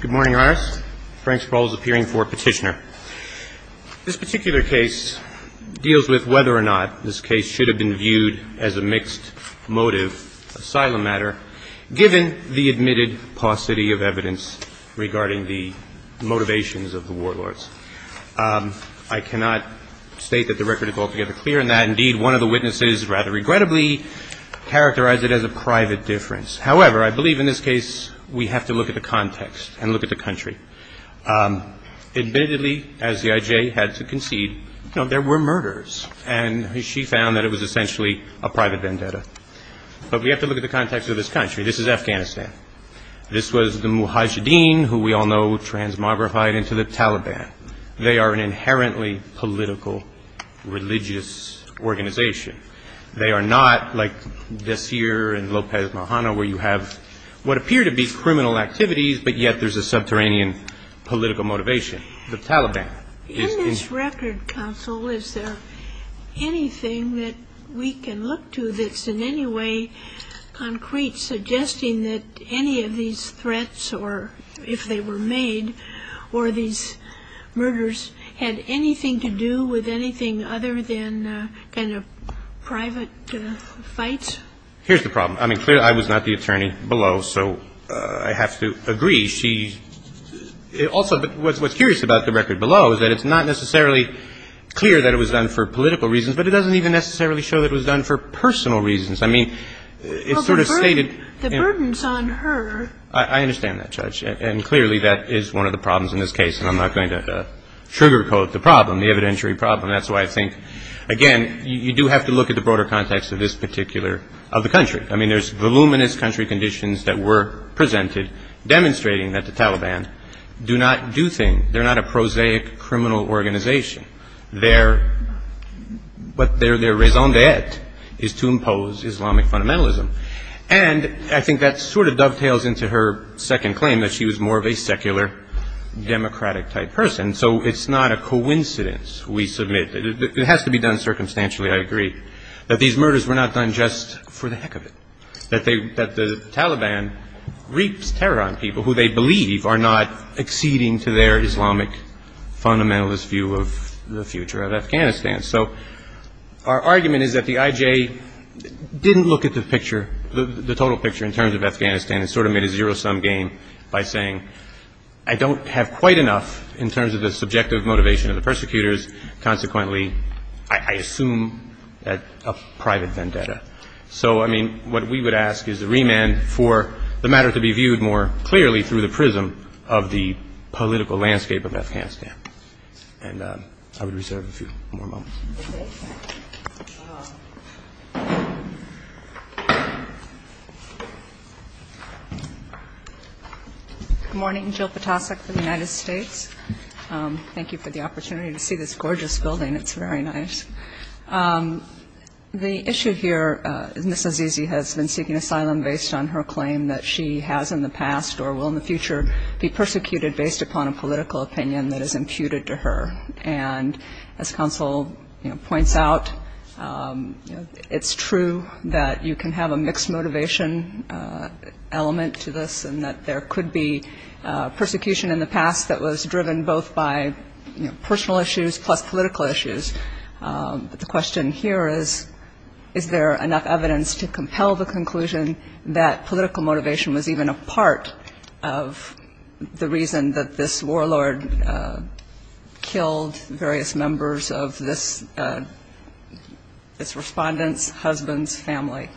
Good morning, Iris. Frank Sparrow is appearing for petitioner. This particular case deals with whether or not this case should have been viewed as a mixed motive asylum matter given the admitted paucity of evidence regarding the motivations of the warlords. I cannot state that the record is altogether clear on that. Indeed, one of the witnesses rather regrettably characterized it as a private difference. However, the I believe in this case we have to look at the context and look at the country. Admittedly, as the I.J. had to concede, there were murders, and she found that it was essentially a private vendetta. But we have to look at the context of this country. This is Afghanistan. This was the muhajideen who we all know transmogrified into the Taliban. They are an inherently political, religious organization. They are not like this here in Lopez Mojano where you have what appear to be criminal activities, but yet there's a subterranean political motivation. The Taliban is In this record, counsel, is there anything that we can look to that's in any way concrete suggesting that any of these threats, or if they were made, or these murders had anything to do with anything other than kind of private fights? Here's the problem. I mean, clearly I was not the attorney. I'm not going to try to give you any kind of concrete evidence. I'm going to put it on the record below. So I have to agree. She also – what's curious about the record below is that it's not necessarily clear that it was done for political reasons, but it doesn't even necessarily show that it was done for personal reasons. I mean, it sort of stated – But the burdens on her – I understand that, Judge, and clearly that is one of the problems in this case, and I'm not going to trigger code the problem, the evidentiary problem. That's why I think, again, you do have to look at the broader context of this particular – of the country. I mean, there's voluminous country conditions that were presented demonstrating that the Taliban do not do things – they're not a prosaic criminal organization. Their – but their raison d'etre is to impose Islamic fundamentalism. And I think that sort of dovetails into her second claim, that she was more of a secular, democratic-type person. So it's not a coincidence, we submit – it has to be done circumstantially, I agree – that these murders were not done just for the heck of it, that they – that the Taliban reaps terror on people who they believe are not acceding to their Islamic fundamentalist view of the future of Afghanistan. So our argument is that the IJ didn't look at the picture, the total picture in terms of Afghanistan, and sort of made a zero-sum game by saying, I don't have quite enough in terms of the subjective motivation of the persecutors. Consequently, I assume that a private vendetta. So, I mean, what we would ask is a remand for the matter to be viewed more clearly through the prism of the political landscape of Afghanistan. And I would reserve a few more moments. MS. Good morning, Jill Ptacek for the United States. Thank you for the opportunity to see this gorgeous building. It's very nice. The issue here is Ms. Azizi has been seeking asylum based on her claim that she has in the past or will in the future be persecuted based upon a political opinion that is imputed to her. And as Counsel points out, it's true that you can have a mixed motivation element to this and that there could be persecution in the past that was driven both by personal issues plus political issues. But the question here is, is there enough evidence to compel the conclusion that political motivation was even a part of the reason that this warlord killed various members of this respondent's husband's family?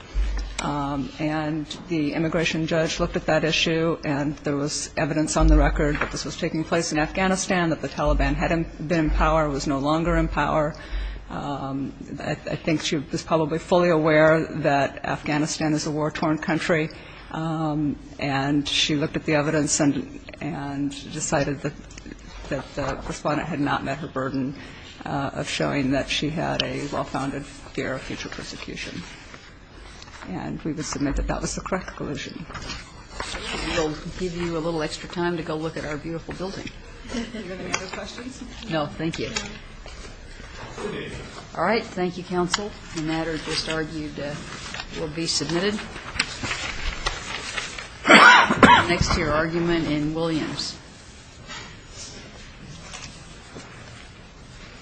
And the immigration judge looked at that issue and there was evidence on the record that this was taking place in Afghanistan, that the Taliban had been in power, was no longer in power. I think she was probably fully aware that Afghanistan is a war-torn country and she looked at the evidence and decided that the respondent had not met her burden of showing that she had a well-founded fear of future persecution. And we would submit that that was the correct conclusion. We'll give you a little extra time to go look at our beautiful building. Do you have any other questions? No, thank you. All right. Thank you, counsel. The matter just argued will be submitted next to your argument in Williams.